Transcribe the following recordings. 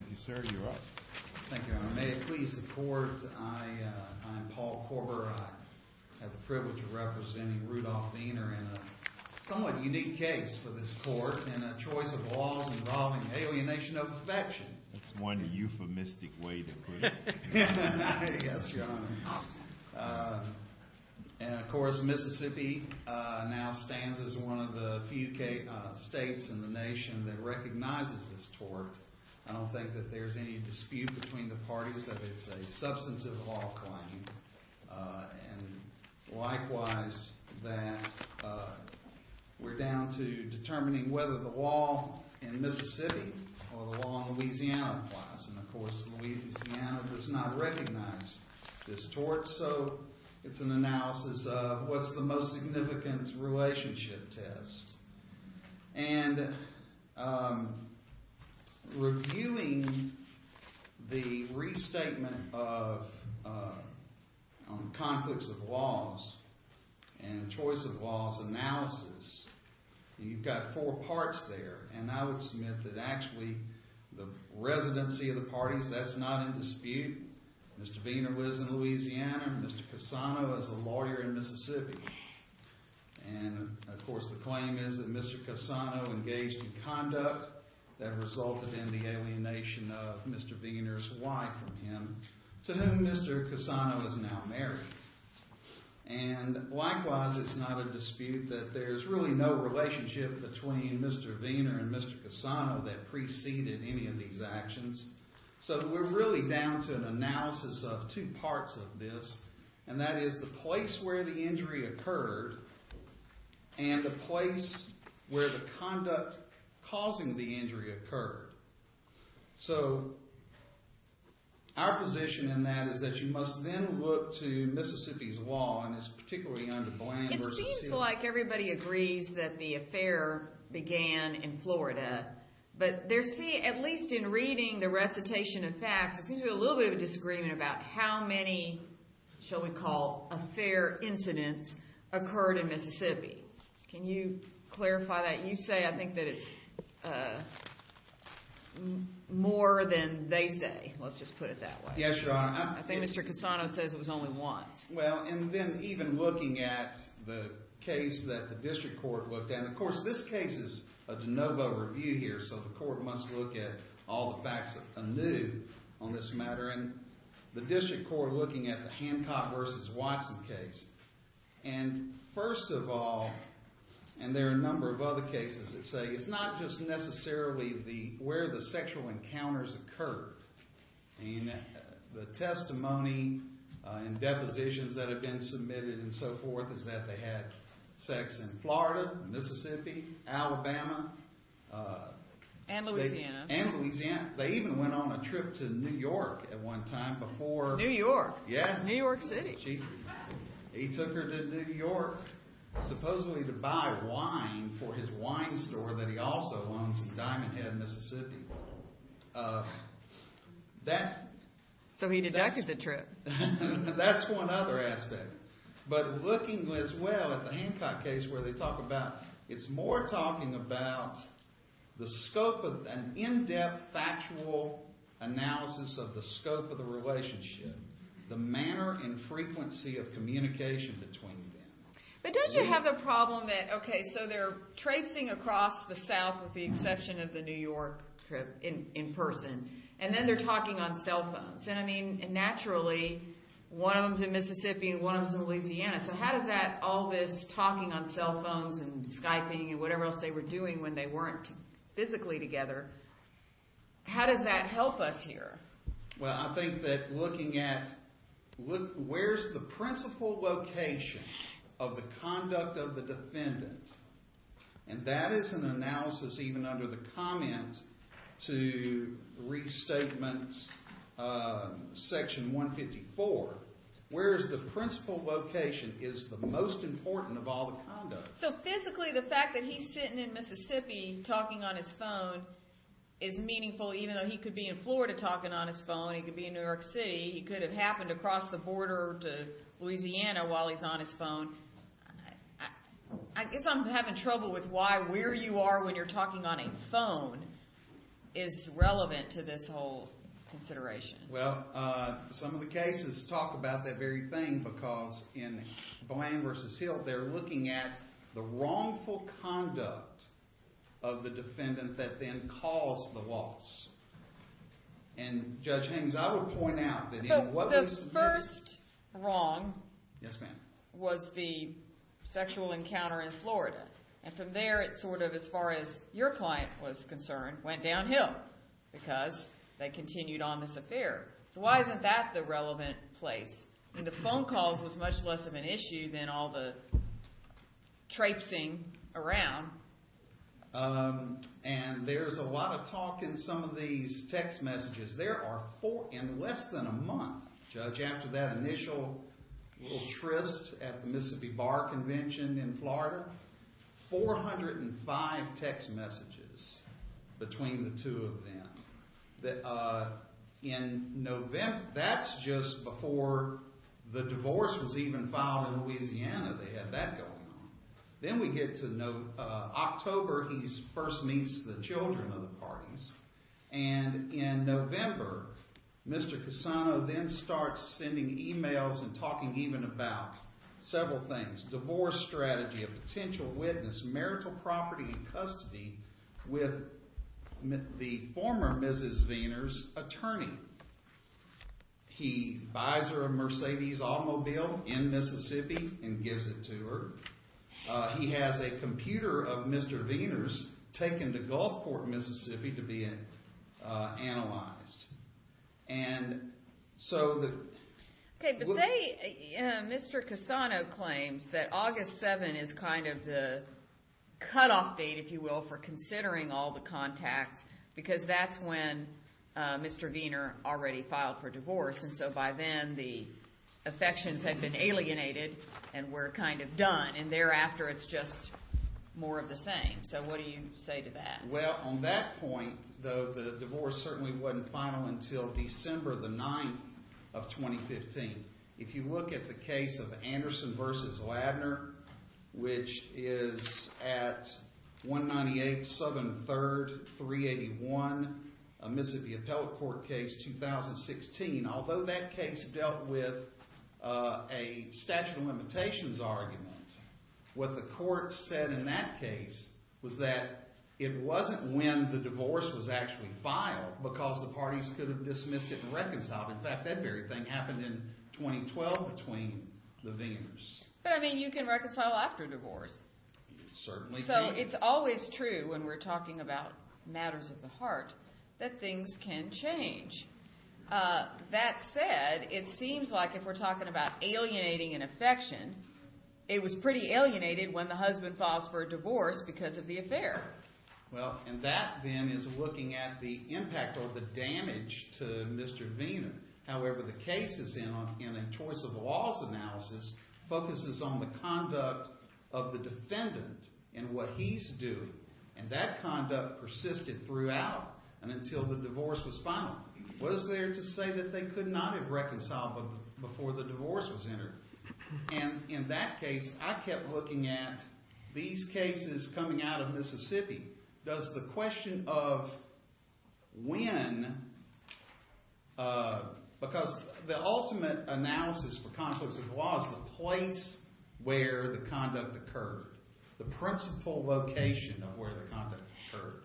Thank you, sir. You're up. Thank you, Your Honor. May it please the Court, I am Paul Korber. I have the privilege of representing Rudolph Viener in a somewhat unique case for this Court in a choice of laws involving alienation of affection. That's one euphemistic way to put it. Yes, Your Honor. And, of course, Mississippi now stands as one of the few states in the nation that recognizes this tort. I don't think that there's any dispute between the parties that it's a substantive law claim. And, likewise, that we're down to determining whether the law in Mississippi or the law in Louisiana applies. And, of course, Louisiana does not recognize this tort. So it's an analysis of what's the most significant relationship test. And reviewing the restatement of conflicts of laws and choice of laws analysis, you've got four parts there. And I would submit that actually the residency of the parties, that's not in dispute. Mr. Viener lives in Louisiana. Mr. Casano is a lawyer in Mississippi. And, of course, the claim is that Mr. Casano engaged in conduct that resulted in the alienation of Mr. Viener's wife from him, to whom Mr. Casano is now married. And, likewise, it's not a dispute that there's really no relationship between Mr. Viener and Mr. Casano that preceded any of these actions. So we're really down to an analysis of two parts of this. And that is the place where the injury occurred and the place where the conduct causing the injury occurred. So our position in that is that you must then look to Mississippi's law, and it's particularly under Bland v. Sealy. It seems like everybody agrees that the affair began in Florida. But at least in reading the recitation of facts, there seems to be a little bit of a disagreement about how many, shall we call, affair incidents occurred in Mississippi. Can you clarify that? You say, I think, that it's more than they say. Let's just put it that way. Yes, Your Honor. I think Mr. Casano says it was only once. Well, and then even looking at the case that the district court looked at. And, of course, this case is a de novo review here, so the court must look at all the facts anew on this matter. And the district court looking at the Hancock v. Watson case. And, first of all, and there are a number of other cases that say it's not just necessarily where the sexual encounters occurred. The testimony and depositions that have been submitted and so forth is that they had sex in Florida, Mississippi, Alabama. And Louisiana. And Louisiana. They even went on a trip to New York at one time before. New York. Yeah. New York City. He took her to New York supposedly to buy wine for his wine store that he also owns in Diamond Head, Mississippi. So he deducted the trip. That's one other aspect. But looking as well at the Hancock case where they talk about it's more talking about the scope of an in-depth factual analysis of the scope of the relationship. The manner and frequency of communication between them. But don't you have the problem that, okay, so they're traipsing across the South with the exception of the New York trip in person. And then they're talking on cell phones. And, I mean, naturally one of them's in Mississippi and one of them's in Louisiana. So how does that all this talking on cell phones and Skyping and whatever else they were doing when they weren't physically together, how does that help us here? Well, I think that looking at where's the principal location of the conduct of the defendant. And that is an analysis even under the comment to restatement section 154. Where's the principal location is the most important of all the conduct. So physically the fact that he's sitting in Mississippi talking on his phone is meaningful even though he could be in Florida talking on his phone. He could be in New York City. He could have happened to cross the border to Louisiana while he's on his phone. I guess I'm having trouble with why where you are when you're talking on a phone is relevant to this whole consideration. Well, some of the cases talk about that very thing because in Blaine v. Hill they're looking at the wrongful conduct of the defendant that then caused the loss. And Judge Haines, I would point out that in what... The first wrong was the sexual encounter in Florida. And from there it sort of, as far as your client was concerned, went downhill because they continued on this affair. So why isn't that the relevant place? And the phone calls was much less of an issue than all the traipsing around. And there's a lot of talk in some of these text messages. There are, in less than a month, Judge, after that initial little tryst at the Mississippi Bar Convention in Florida, 405 text messages between the two of them. That's just before the divorce was even filed in Louisiana. They had that going on. Then we get to October. He first meets the children of the parties. And in November, Mr. Cassano then starts sending emails and talking even about several things. Divorce strategy, a potential witness, marital property and custody with the former Mrs. Viener's attorney. He buys her a Mercedes automobile in Mississippi and gives it to her. He has a computer of Mr. Viener's taken to Gulfport, Mississippi to be analyzed. And so the- Okay, but they, Mr. Cassano claims that August 7 is kind of the cutoff date, if you will, for considering all the contacts because that's when Mr. Viener already filed for divorce. And so by then, the affections had been alienated and were kind of done. And thereafter, it's just more of the same. So what do you say to that? Well, on that point, though, the divorce certainly wasn't final until December the 9th of 2015. If you look at the case of Anderson v. Ladner, which is at 198 Southern 3rd, 381 Mississippi Appellate Court Case 2016, although that case dealt with a statute of limitations argument, what the court said in that case was that it wasn't when the divorce was actually filed because the parties could have dismissed it and reconciled it. In fact, that very thing happened in 2012 between the Vieners. But, I mean, you can reconcile after divorce. It certainly can. So it's always true when we're talking about matters of the heart that things can change. That said, it seems like if we're talking about alienating an affection, it was pretty alienated when the husband files for a divorce because of the affair. Well, and that then is looking at the impact or the damage to Mr. Viener. However, the cases in a choice of laws analysis focuses on the conduct of the defendant and what he's doing. And that conduct persisted throughout and until the divorce was final. What is there to say that they could not have reconciled before the divorce was entered? And in that case, I kept looking at these cases coming out of Mississippi. Does the question of when, because the ultimate analysis for conflicts of the law is the place where the conduct occurred, the principal location of where the conduct occurred.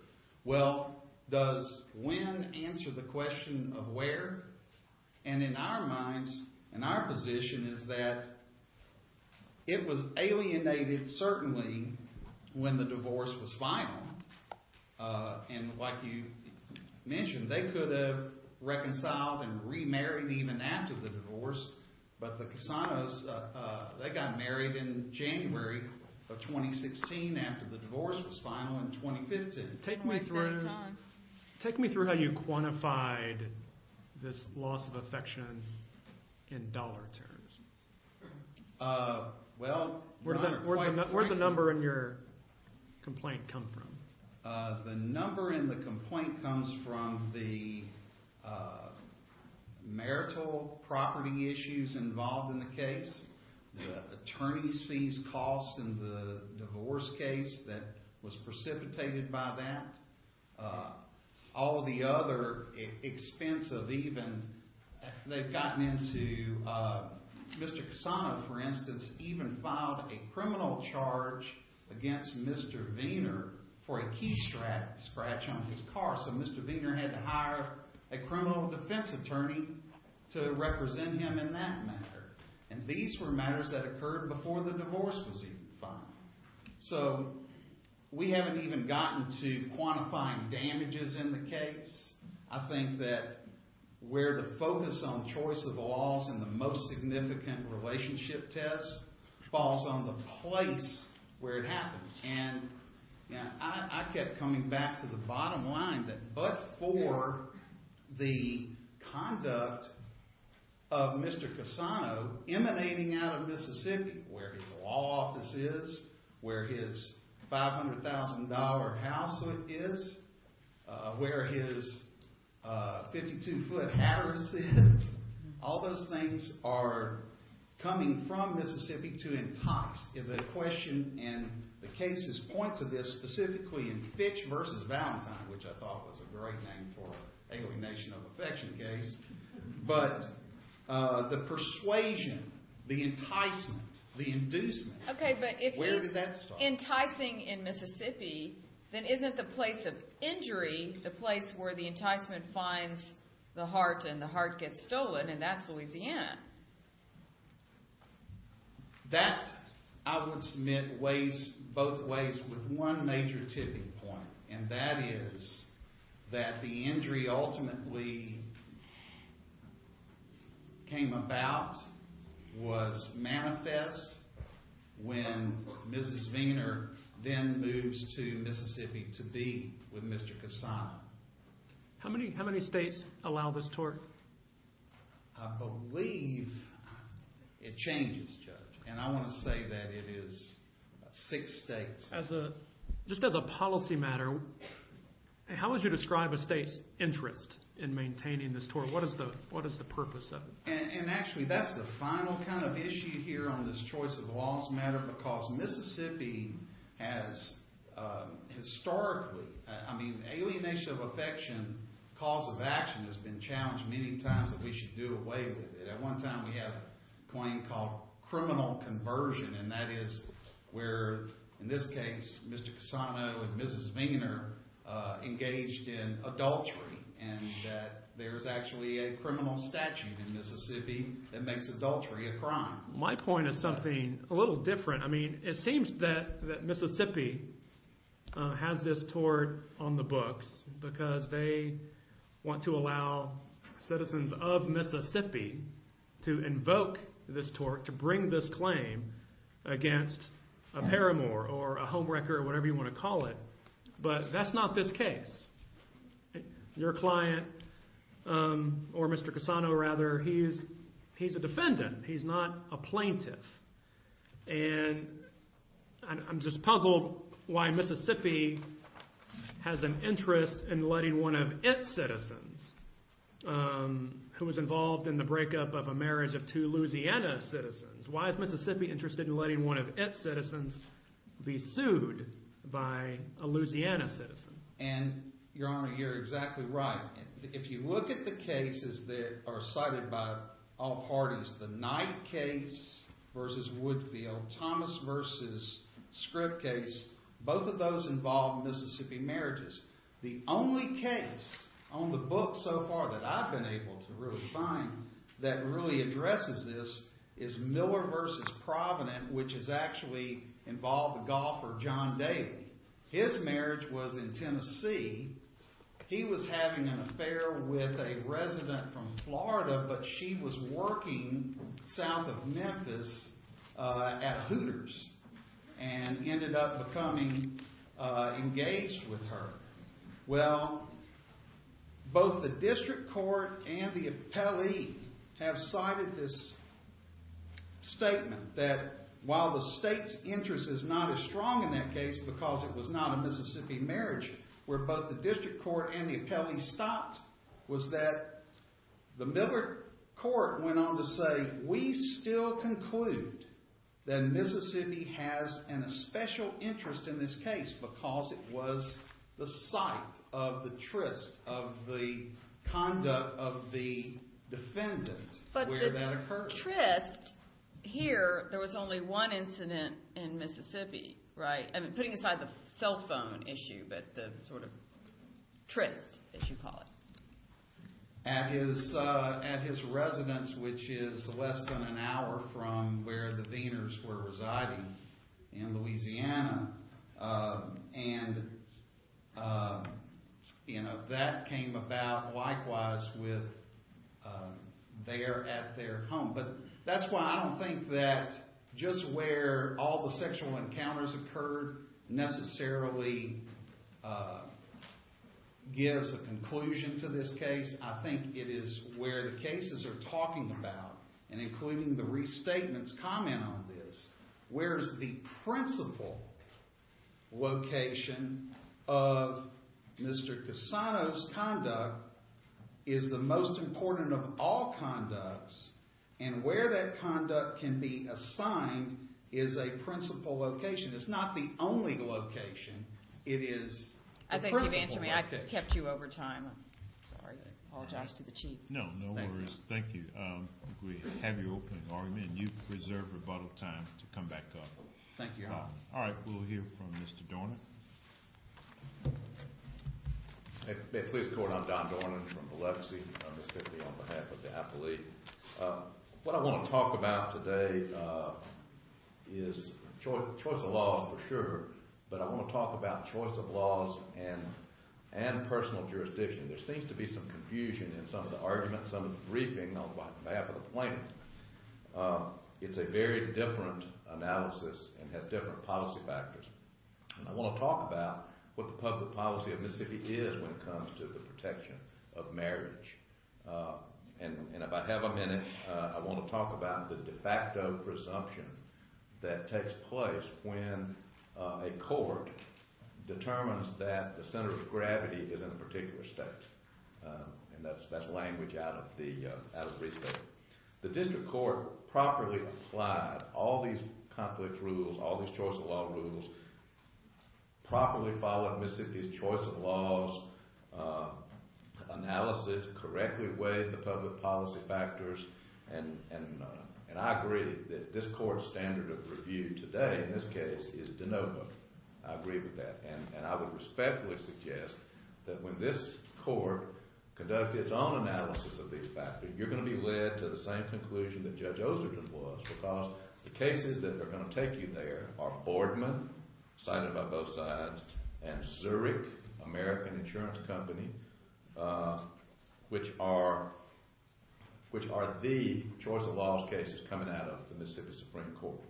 Well, does when answer the question of where? And in our minds and our position is that it was alienated certainly when the divorce was final. And like you mentioned, they could have reconciled and remarried even after the divorce. But the Casanos, they got married in January of 2016 after the divorce was final in 2015. Take me through how you quantified this loss of affection in dollar terms. Where did the number in your complaint come from? The number in the complaint comes from the marital property issues involved in the case, the attorney's fees cost in the divorce case that was precipitated by that. All the other expense of even, they've gotten into, Mr. Casano, for instance, even filed a criminal charge against Mr. Wiener for a key scratch on his car. So Mr. Wiener had to hire a criminal defense attorney to represent him in that matter. And these were matters that occurred before the divorce was even final. So we haven't even gotten to quantifying damages in the case. I think that where to focus on choice of loss in the most significant relationship test falls on the place where it happened. I kept coming back to the bottom line that but for the conduct of Mr. Casano emanating out of Mississippi, where his law office is, where his $500,000 house is, where his 52-foot house is, all those things are coming from Mississippi to entice. The question and the cases point to this specifically in Fitch v. Valentine, which I thought was a great name for an alienation of affection case. But the persuasion, the enticement, the inducement, where did that start? Okay, but if he's enticing in Mississippi, then isn't the place of injury the place where the enticement finds the heart and the heart gets stolen? And that's Louisiana. That, I would submit, weighs both ways with one major tipping point, and that is that the injury ultimately came about, was manifest when Mrs. Wiener then moves to Mississippi to be with Mr. Casano. How many states allow this tort? I believe it changes, Judge, and I want to say that it is six states. Just as a policy matter, how would you describe a state's interest in maintaining this tort? What is the purpose of it? And actually, that's the final kind of issue here on this choice of laws matter because Mississippi has historically, I mean, alienation of affection, cause of action has been challenged many times that we should do away with it. At one time, we had a claim called criminal conversion, and that is where, in this case, Mr. Casano and Mrs. Wiener engaged in adultery and that there's actually a criminal statute in Mississippi that makes adultery a crime. My point is something a little different. I mean, it seems that Mississippi has this tort on the books because they want to allow citizens of Mississippi to invoke this tort, to bring this claim against a paramour or a homewrecker or whatever you want to call it, but that's not this case. Your client, or Mr. Casano rather, he's a defendant. He's not a plaintiff. And I'm just puzzled why Mississippi has an interest in letting one of its citizens, who was involved in the breakup of a marriage of two Louisiana citizens, why is Mississippi interested in letting one of its citizens be sued by a Louisiana citizen? And, Your Honor, you're exactly right. If you look at the cases that are cited by all parties, the Knight case versus Woodfield, Thomas versus Scripp case, both of those involve Mississippi marriages. The only case on the book so far that I've been able to really find that really addresses this is Miller versus Provident, which has actually involved the golfer John Daly. His marriage was in Tennessee. He was having an affair with a resident from Florida, but she was working south of Memphis at Hooters and ended up becoming engaged with her. Well, both the district court and the appellee have cited this statement that while the state's interest is not as strong in that case because it was not a Mississippi marriage, where both the district court and the appellee stopped was that the Miller court went on to say, we still conclude that Mississippi has a special interest in this case because it was the site of the tryst of the conduct of the defendant where that occurred. But the tryst here, there was only one incident in Mississippi, right? I mean, putting aside the cell phone issue, but the sort of tryst, as you call it. At his residence, which is less than an hour from where the Wieners were residing in Louisiana, and that came about likewise with there at their home. But that's why I don't think that just where all the sexual encounters occurred necessarily gives a conclusion to this case. I think it is where the cases are talking about and including the restatement's comment on this, where is the principal location of Mr. Cassano's conduct is the most important of all conducts, and where that conduct can be assigned is a principal location. It's not the only location. It is the principal location. I thank you for answering me. I kept you over time. I'm sorry. I apologize to the Chief. No, no worries. Thank you. We have your opening argument, and you preserve rebuttal time to come back up. Thank you, Your Honor. All right, we'll hear from Mr. Dornan. May it please the Court, I'm Don Dornan from Biloxi, on behalf of the appellee. What I want to talk about today is choice of laws for sure, but I want to talk about choice of laws and personal jurisdiction. There seems to be some confusion in some of the arguments, some of the briefing on behalf of the plaintiff. It's a very different analysis and has different policy factors, and I want to talk about what the public policy of Mississippi is when it comes to the protection of marriage. And if I have a minute, I want to talk about the de facto presumption that takes place when a court determines that the center of gravity is in a particular state, and that's language out of the reason. The district court properly applied all these complex rules, all these choice of law rules, properly followed Mississippi's choice of laws analysis, correctly weighed the public policy factors, and I agree that this court's standard of review today in this case is de novo. I agree with that, and I would respectfully suggest that when this court conducts its own analysis of these factors, you're going to be led to the same conclusion that Judge Oserton was because the cases that are going to take you there are Boardman, cited by both sides, and Zurich American Insurance Company, which are the choice of laws cases coming out of the Mississippi Supreme Court.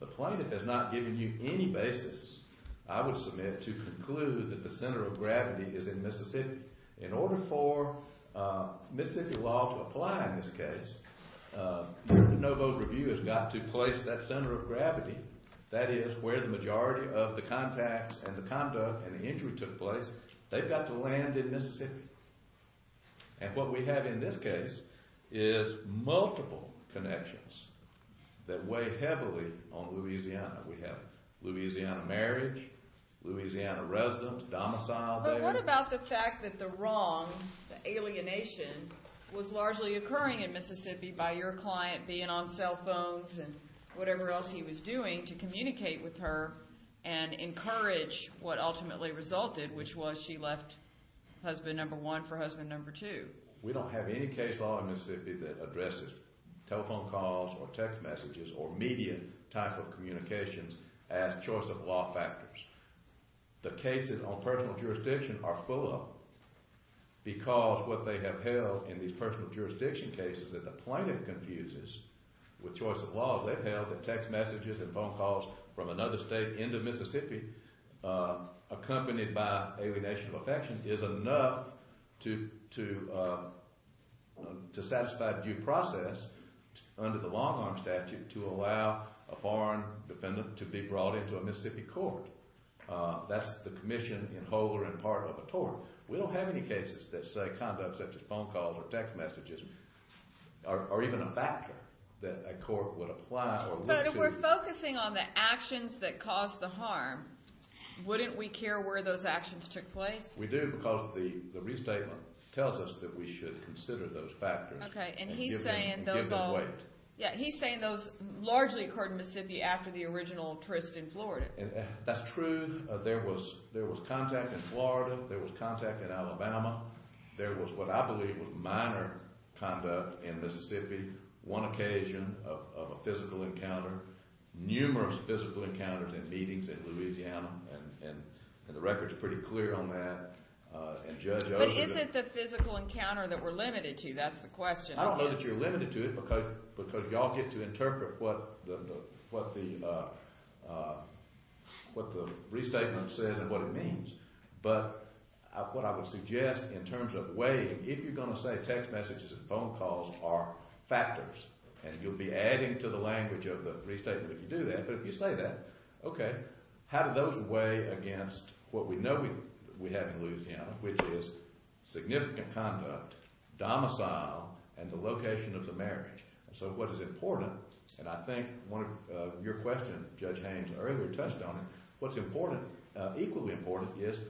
The plaintiff has not given you any basis. I would submit to conclude that the center of gravity is in Mississippi. In order for Mississippi law to apply in this case, your de novo review has got to place that center of gravity, that is, where the majority of the contacts and the conduct and the injury took place, they've got to land in Mississippi. And what we have in this case is multiple connections that weigh heavily on Louisiana. We have Louisiana marriage, Louisiana residents, domicile there. But what about the fact that the wrong, the alienation, was largely occurring in Mississippi by your client being on cell phones and whatever else he was doing to communicate with her and encourage what ultimately resulted, which was she left husband number one for husband number two? We don't have any case law in Mississippi that addresses telephone calls or text messages or media type of communications as choice of law factors. The cases on personal jurisdiction are full because what they have held in these personal jurisdiction cases that the plaintiff confuses with choice of law, they've held that text messages and phone calls from another state into Mississippi accompanied by alienation of affection is enough to satisfy due process under the long-arm statute to allow a foreign defendant to be brought into a Mississippi court. That's the commission in whole or in part of a tort. We don't have any cases that say conduct such as phone calls or text messages are even a factor that a court would apply or look to. But if we're focusing on the actions that caused the harm, wouldn't we care where those actions took place? We do because the restatement tells us that we should consider those factors. Okay, and he's saying those largely occurred in Mississippi after the original tryst in Florida. That's true. There was contact in Florida. There was contact in Alabama. There was what I believe was minor conduct in Mississippi, one occasion of a physical encounter, numerous physical encounters and meetings in Louisiana, and the record's pretty clear on that. But is it the physical encounter that we're limited to? That's the question. I don't know that you're limited to it because you all get to interpret what the restatement says and what it means. But what I would suggest in terms of weighing, if you're going to say text messages and phone calls are factors and you'll be adding to the language of the restatement if you do that, but if you say that, okay, how do those weigh against what we know we have in Louisiana, which is significant conduct, domicile, and the location of the marriage? So what is important, and I think your question, Judge Haynes, earlier touched on it, what's equally important is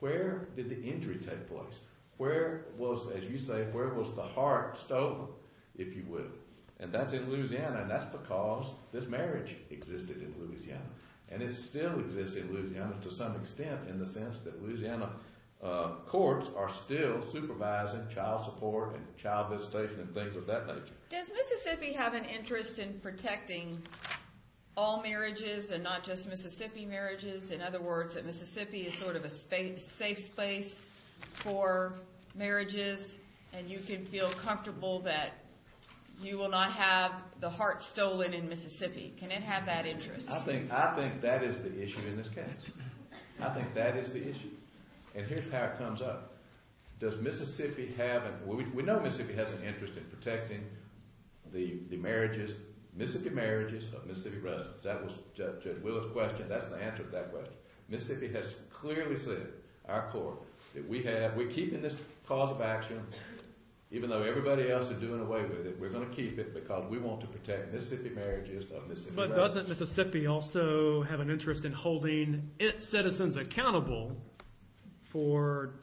where did the injury take place? Where was, as you say, where was the heart stolen, if you will? And that's in Louisiana, and that's because this marriage existed in Louisiana, and it still exists in Louisiana to some extent in the sense that Louisiana courts are still supervising child support and child visitation and things of that nature. Does Mississippi have an interest in protecting all marriages and not just Mississippi marriages? In other words, that Mississippi is sort of a safe space for marriages and you can feel comfortable that you will not have the heart stolen in Mississippi. Can it have that interest? I think that is the issue in this case. I think that is the issue. And here's how it comes up. Does Mississippi have an—we know Mississippi has an interest in protecting the marriages, Mississippi marriages of Mississippi residents. That was Judge Willard's question. That's the answer to that question. Mississippi has clearly said, our court, that we have—we're keeping this cause of action, even though everybody else is doing away with it, we're going to keep it because we want to protect Mississippi marriages of Mississippi residents. But doesn't Mississippi also have an interest in holding its citizens accountable for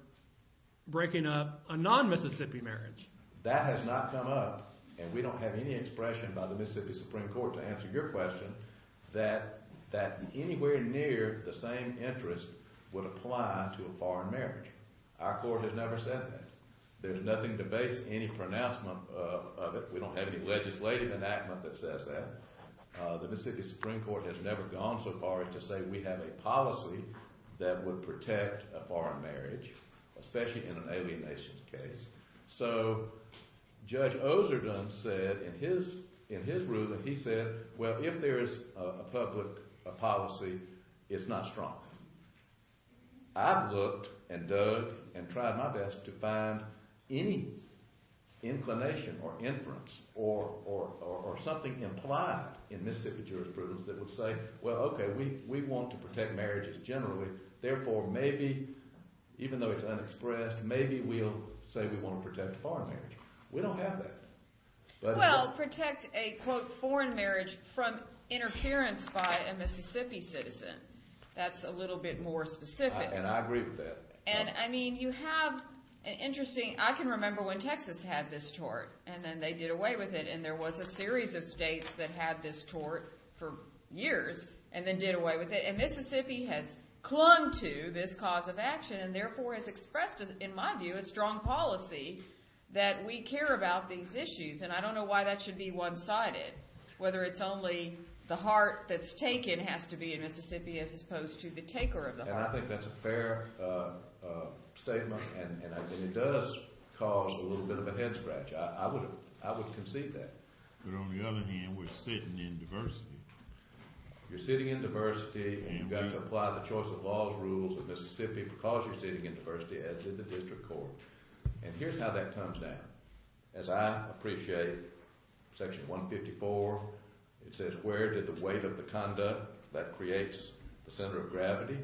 breaking up a non-Mississippi marriage? That has not come up, and we don't have any expression by the Mississippi Supreme Court to answer your question that anywhere near the same interest would apply to a foreign marriage. Our court has never said that. There's nothing to base any pronouncement of it. We don't have any legislative enactment that says that. The Mississippi Supreme Court has never gone so far as to say we have a policy that would protect a foreign marriage, especially in an alienation case. So Judge Oserdon said in his ruling, he said, well, if there's a public policy, it's not strong. I've looked and dug and tried my best to find any inclination or inference or something implied in Mississippi jurisprudence that would say, well, okay, we want to protect marriages generally, therefore maybe, even though it's unexpressed, maybe we'll say we want to protect a foreign marriage. We don't have that. Well, protect a, quote, foreign marriage from interference by a Mississippi citizen. That's a little bit more specific. And I agree with that. And, I mean, you have an interesting – I can remember when Texas had this tort and then they did away with it, and there was a series of states that had this tort for years and then did away with it, and Mississippi has clung to this cause of action and therefore has expressed, in my view, a strong policy that we care about these issues. And I don't know why that should be one-sided, whether it's only the heart that's taken has to be in Mississippi as opposed to the taker of the heart. And I think that's a fair statement, and it does cause a little bit of a head scratch. I would concede that. But on the other hand, we're sitting in diversity. You're sitting in diversity, and you've got to apply the choice-of-laws rules of Mississippi because you're sitting in diversity, as did the district court. And here's how that comes down. As I appreciate Section 154, it says, Where did the weight of the conduct that creates the center of gravity?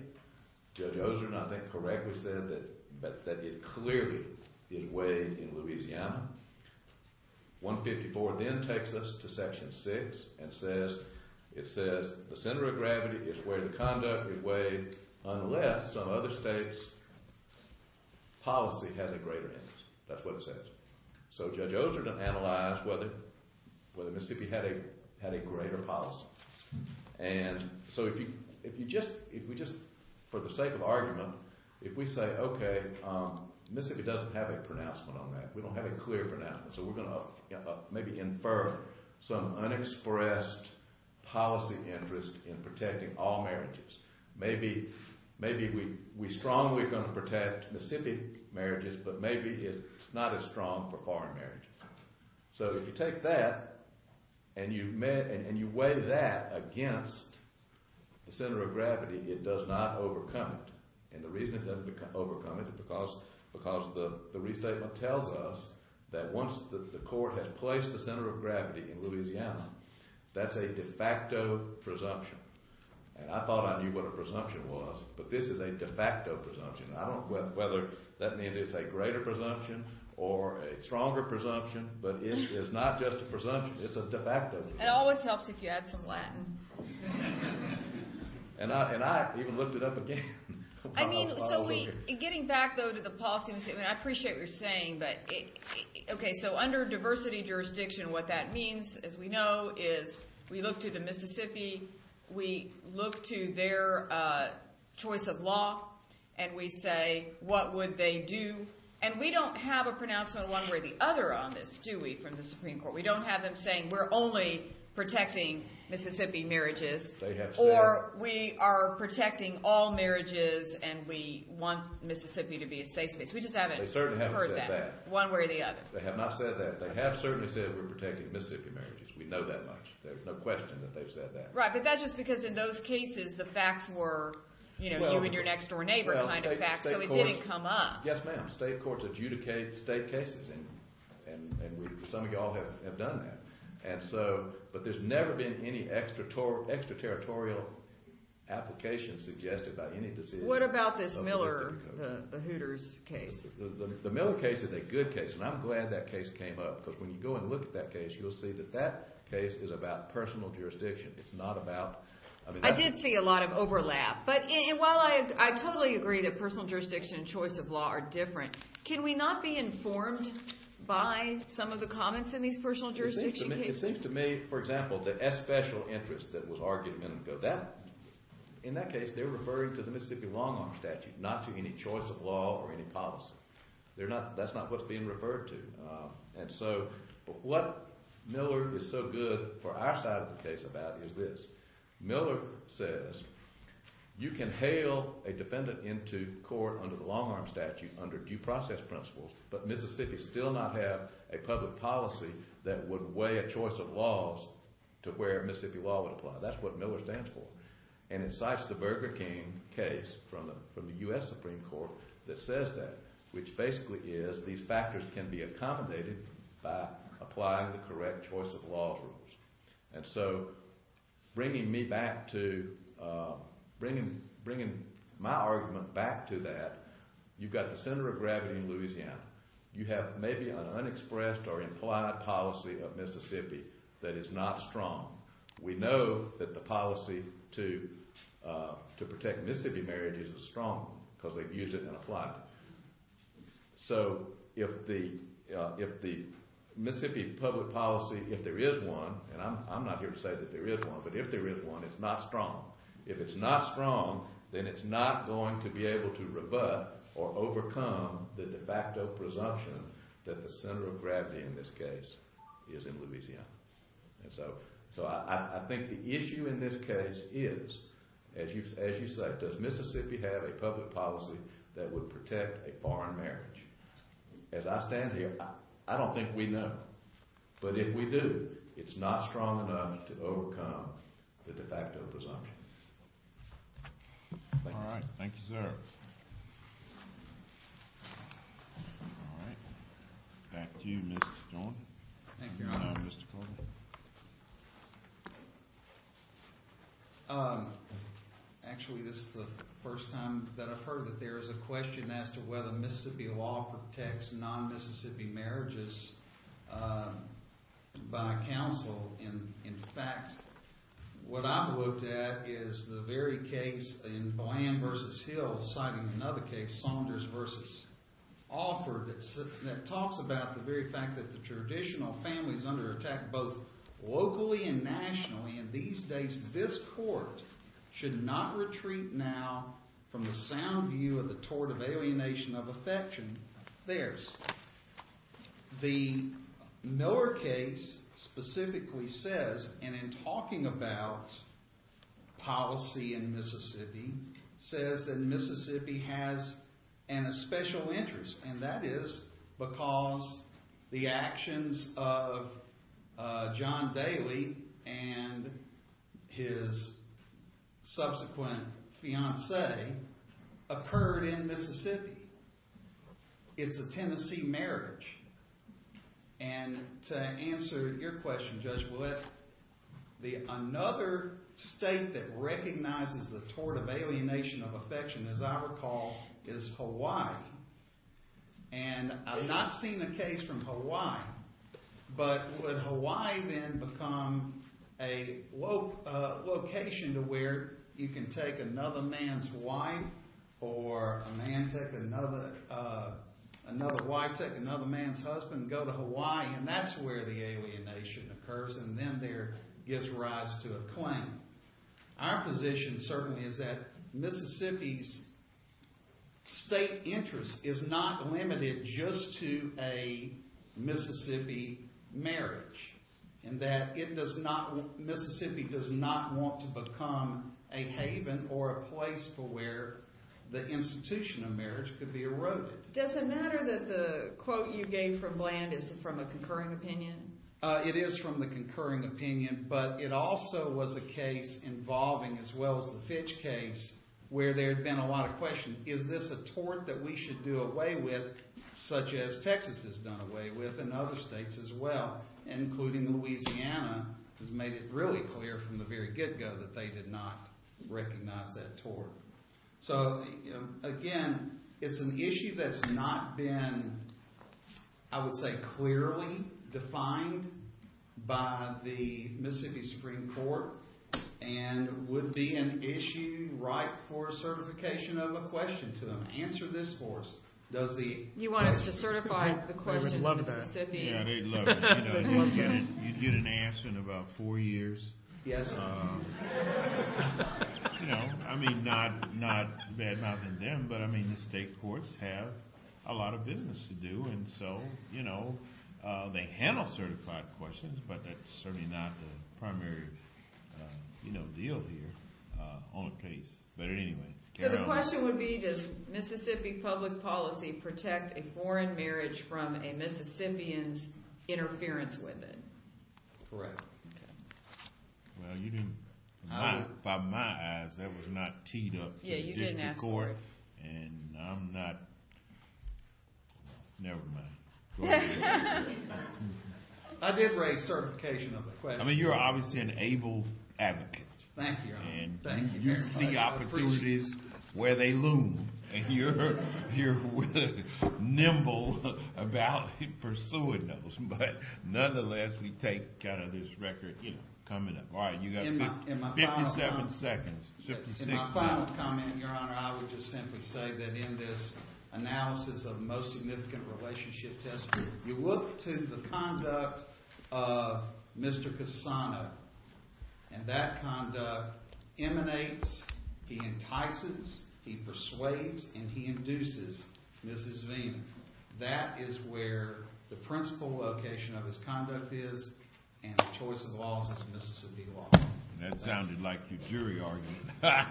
Judge Osren, I think, correctly said that it clearly is weighed in Louisiana. 154 then takes us to Section 6 and says, It says, The center of gravity is where the conduct is weighed unless some other state's policy has a greater interest. That's what it says. So Judge Osren analyzed whether Mississippi had a greater policy. And so if we just, for the sake of argument, if we say, Okay, Mississippi doesn't have a pronouncement on that, we don't have a clear pronouncement, so we're going to maybe infer some unexpressed policy interest in protecting all marriages. Maybe we strongly are going to protect Mississippi marriages, but maybe it's not as strong for foreign marriages. So if you take that and you weigh that against the center of gravity, it does not overcome it. And the reason it doesn't overcome it is because the restatement tells us that once the court has placed the center of gravity in Louisiana, that's a de facto presumption. And I thought I knew what a presumption was, but this is a de facto presumption. I don't know whether that means it's a greater presumption or a stronger presumption, but it is not just a presumption. It's a de facto presumption. It always helps if you add some Latin. And I even looked it up again. I mean, so getting back, though, to the policy statement, I appreciate what you're saying, but, okay, so under diversity jurisdiction, what that means, as we know, is we look to the Mississippi, we look to their choice of law, and we say, What would they do? And we don't have a pronouncement one way or the other on this, do we, from the Supreme Court. We don't have them saying we're only protecting Mississippi marriages or we are protecting all marriages and we want Mississippi to be a safe space. We just haven't heard that one way or the other. They have not said that. They have certainly said we're protecting Mississippi marriages. We know that much. There's no question that they've said that. Right, but that's just because in those cases the facts were, you know, you and your next-door neighbor kind of facts, so it didn't come up. Yes, ma'am. State courts adjudicate state cases, and some of you all have done that. And so, but there's never been any extraterritorial applications suggested by any decision. What about this Miller, the Hooters case? The Miller case is a good case, and I'm glad that case came up because when you go and look at that case, you'll see that that case is about personal jurisdiction. It's not about, I mean, that's- I did see a lot of overlap. But while I totally agree that personal jurisdiction and choice of law are different, can we not be informed by some of the comments in these personal jurisdiction cases? It seems to me, for example, the S-Special interest that was argued a minute ago, in that case they're referring to the Mississippi long-arm statute, not to any choice of law or any policy. That's not what's being referred to. And so what Miller is so good for our side of the case about is this. Miller says you can hail a defendant into court under the long-arm statute under due process principles, but Mississippi still not have a public policy that would weigh a choice of laws to where Mississippi law would apply. That's what Miller stands for. And incites the Burger King case from the U.S. Supreme Court that says that, which basically is these factors can be accommodated by applying the correct choice of laws rules. And so bringing me back to – bringing my argument back to that, you've got the center of gravity in Louisiana. You have maybe an unexpressed or implied policy of Mississippi that is not strong. We know that the policy to protect Mississippi marriages is strong because they use it in a plot. So if the Mississippi public policy, if there is one, and I'm not here to say that there is one, but if there is one, it's not strong. If it's not strong, then it's not going to be able to rebut or overcome the de facto presumption that the center of gravity in this case is in Louisiana. And so I think the issue in this case is, as you say, does Mississippi have a public policy that would protect a foreign marriage? As I stand here, I don't think we know. But if we do, it's not strong enough to overcome the de facto presumption. All right. Thank you, sir. All right. Back to you, Mr. Jordan. Thank you, Your Honor. Mr. Carter. Actually, this is the first time that I've heard that there is a question as to whether Mississippi law protects non-Mississippi marriages by counsel. In fact, what I've looked at is the very case in Boyan v. Hill, citing another case, Saunders v. Offord, that talks about the very fact that the traditional families under attack both locally and nationally in these days, this court should not retreat now from the sound view of the tort of alienation of affection of theirs. The Miller case specifically says, and in talking about policy in Mississippi, says that Mississippi has a special interest, and that is because the actions of John Daly and his subsequent fiancee occurred in Mississippi. It's a Tennessee marriage. And to answer your question, Judge, another state that recognizes the tort of alienation of affection, as I recall, is Hawaii. And I've not seen a case from Hawaii, but would Hawaii then become a location to where you can take another man's wife, or a man take another wife, take another man's husband, go to Hawaii, and that's where the alienation occurs, and then there gives rise to a claim. Our position certainly is that Mississippi's state interest is not limited just to a Mississippi marriage, and that Mississippi does not want to become a haven or a place for where the institution of marriage could be eroded. Does it matter that the quote you gave from Bland is from a concurring opinion? It is from the concurring opinion, but it also was a case involving, as well as the Fitch case, where there had been a lot of questions. Is this a tort that we should do away with, such as Texas has done away with and other states as well, including Louisiana, has made it really clear from the very get-go that they did not recognize that tort. So, again, it's an issue that's not been, I would say, clearly defined by the Mississippi Supreme Court and would be an issue ripe for certification of a question to them. Answer this for us. You want us to certify the question to Mississippi? Yeah, they'd love it. You'd get an answer in about four years. Yes, sir. I mean, not bad-mouthing them, but the state courts have a lot of business to do, and so they handle certified questions, but that's certainly not the primary deal here on the case. But anyway. So the question would be, does Mississippi public policy protect a foreign marriage from a Mississippian's interference with it? Correct. Well, you didn't. By my eyes, that was not teed up to the district court. Yeah, you didn't ask for it. And I'm not. Never mind. I did raise certification of the question. I mean, you're obviously an able advocate. Thank you, Your Honor. And you see opportunities where they loom, and you're nimble about pursuing those. But nonetheless, we take this record coming up. All right, you've got 57 seconds. In my final comment, Your Honor, I would just simply say that in this analysis of most significant relationship testimony, you look to the conduct of Mr. Cassano, and that conduct emanates, he entices, he persuades, and he induces Mrs. Veen. That is where the principal location of his conduct is, and the choice of laws is Mississippi law. That sounded like your jury argument. Thank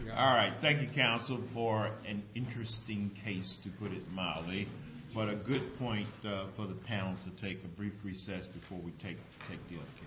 you, Your Honor. So far, an interesting case, to put it mildly. But a good point for the panel to take a brief recess before we take the other case.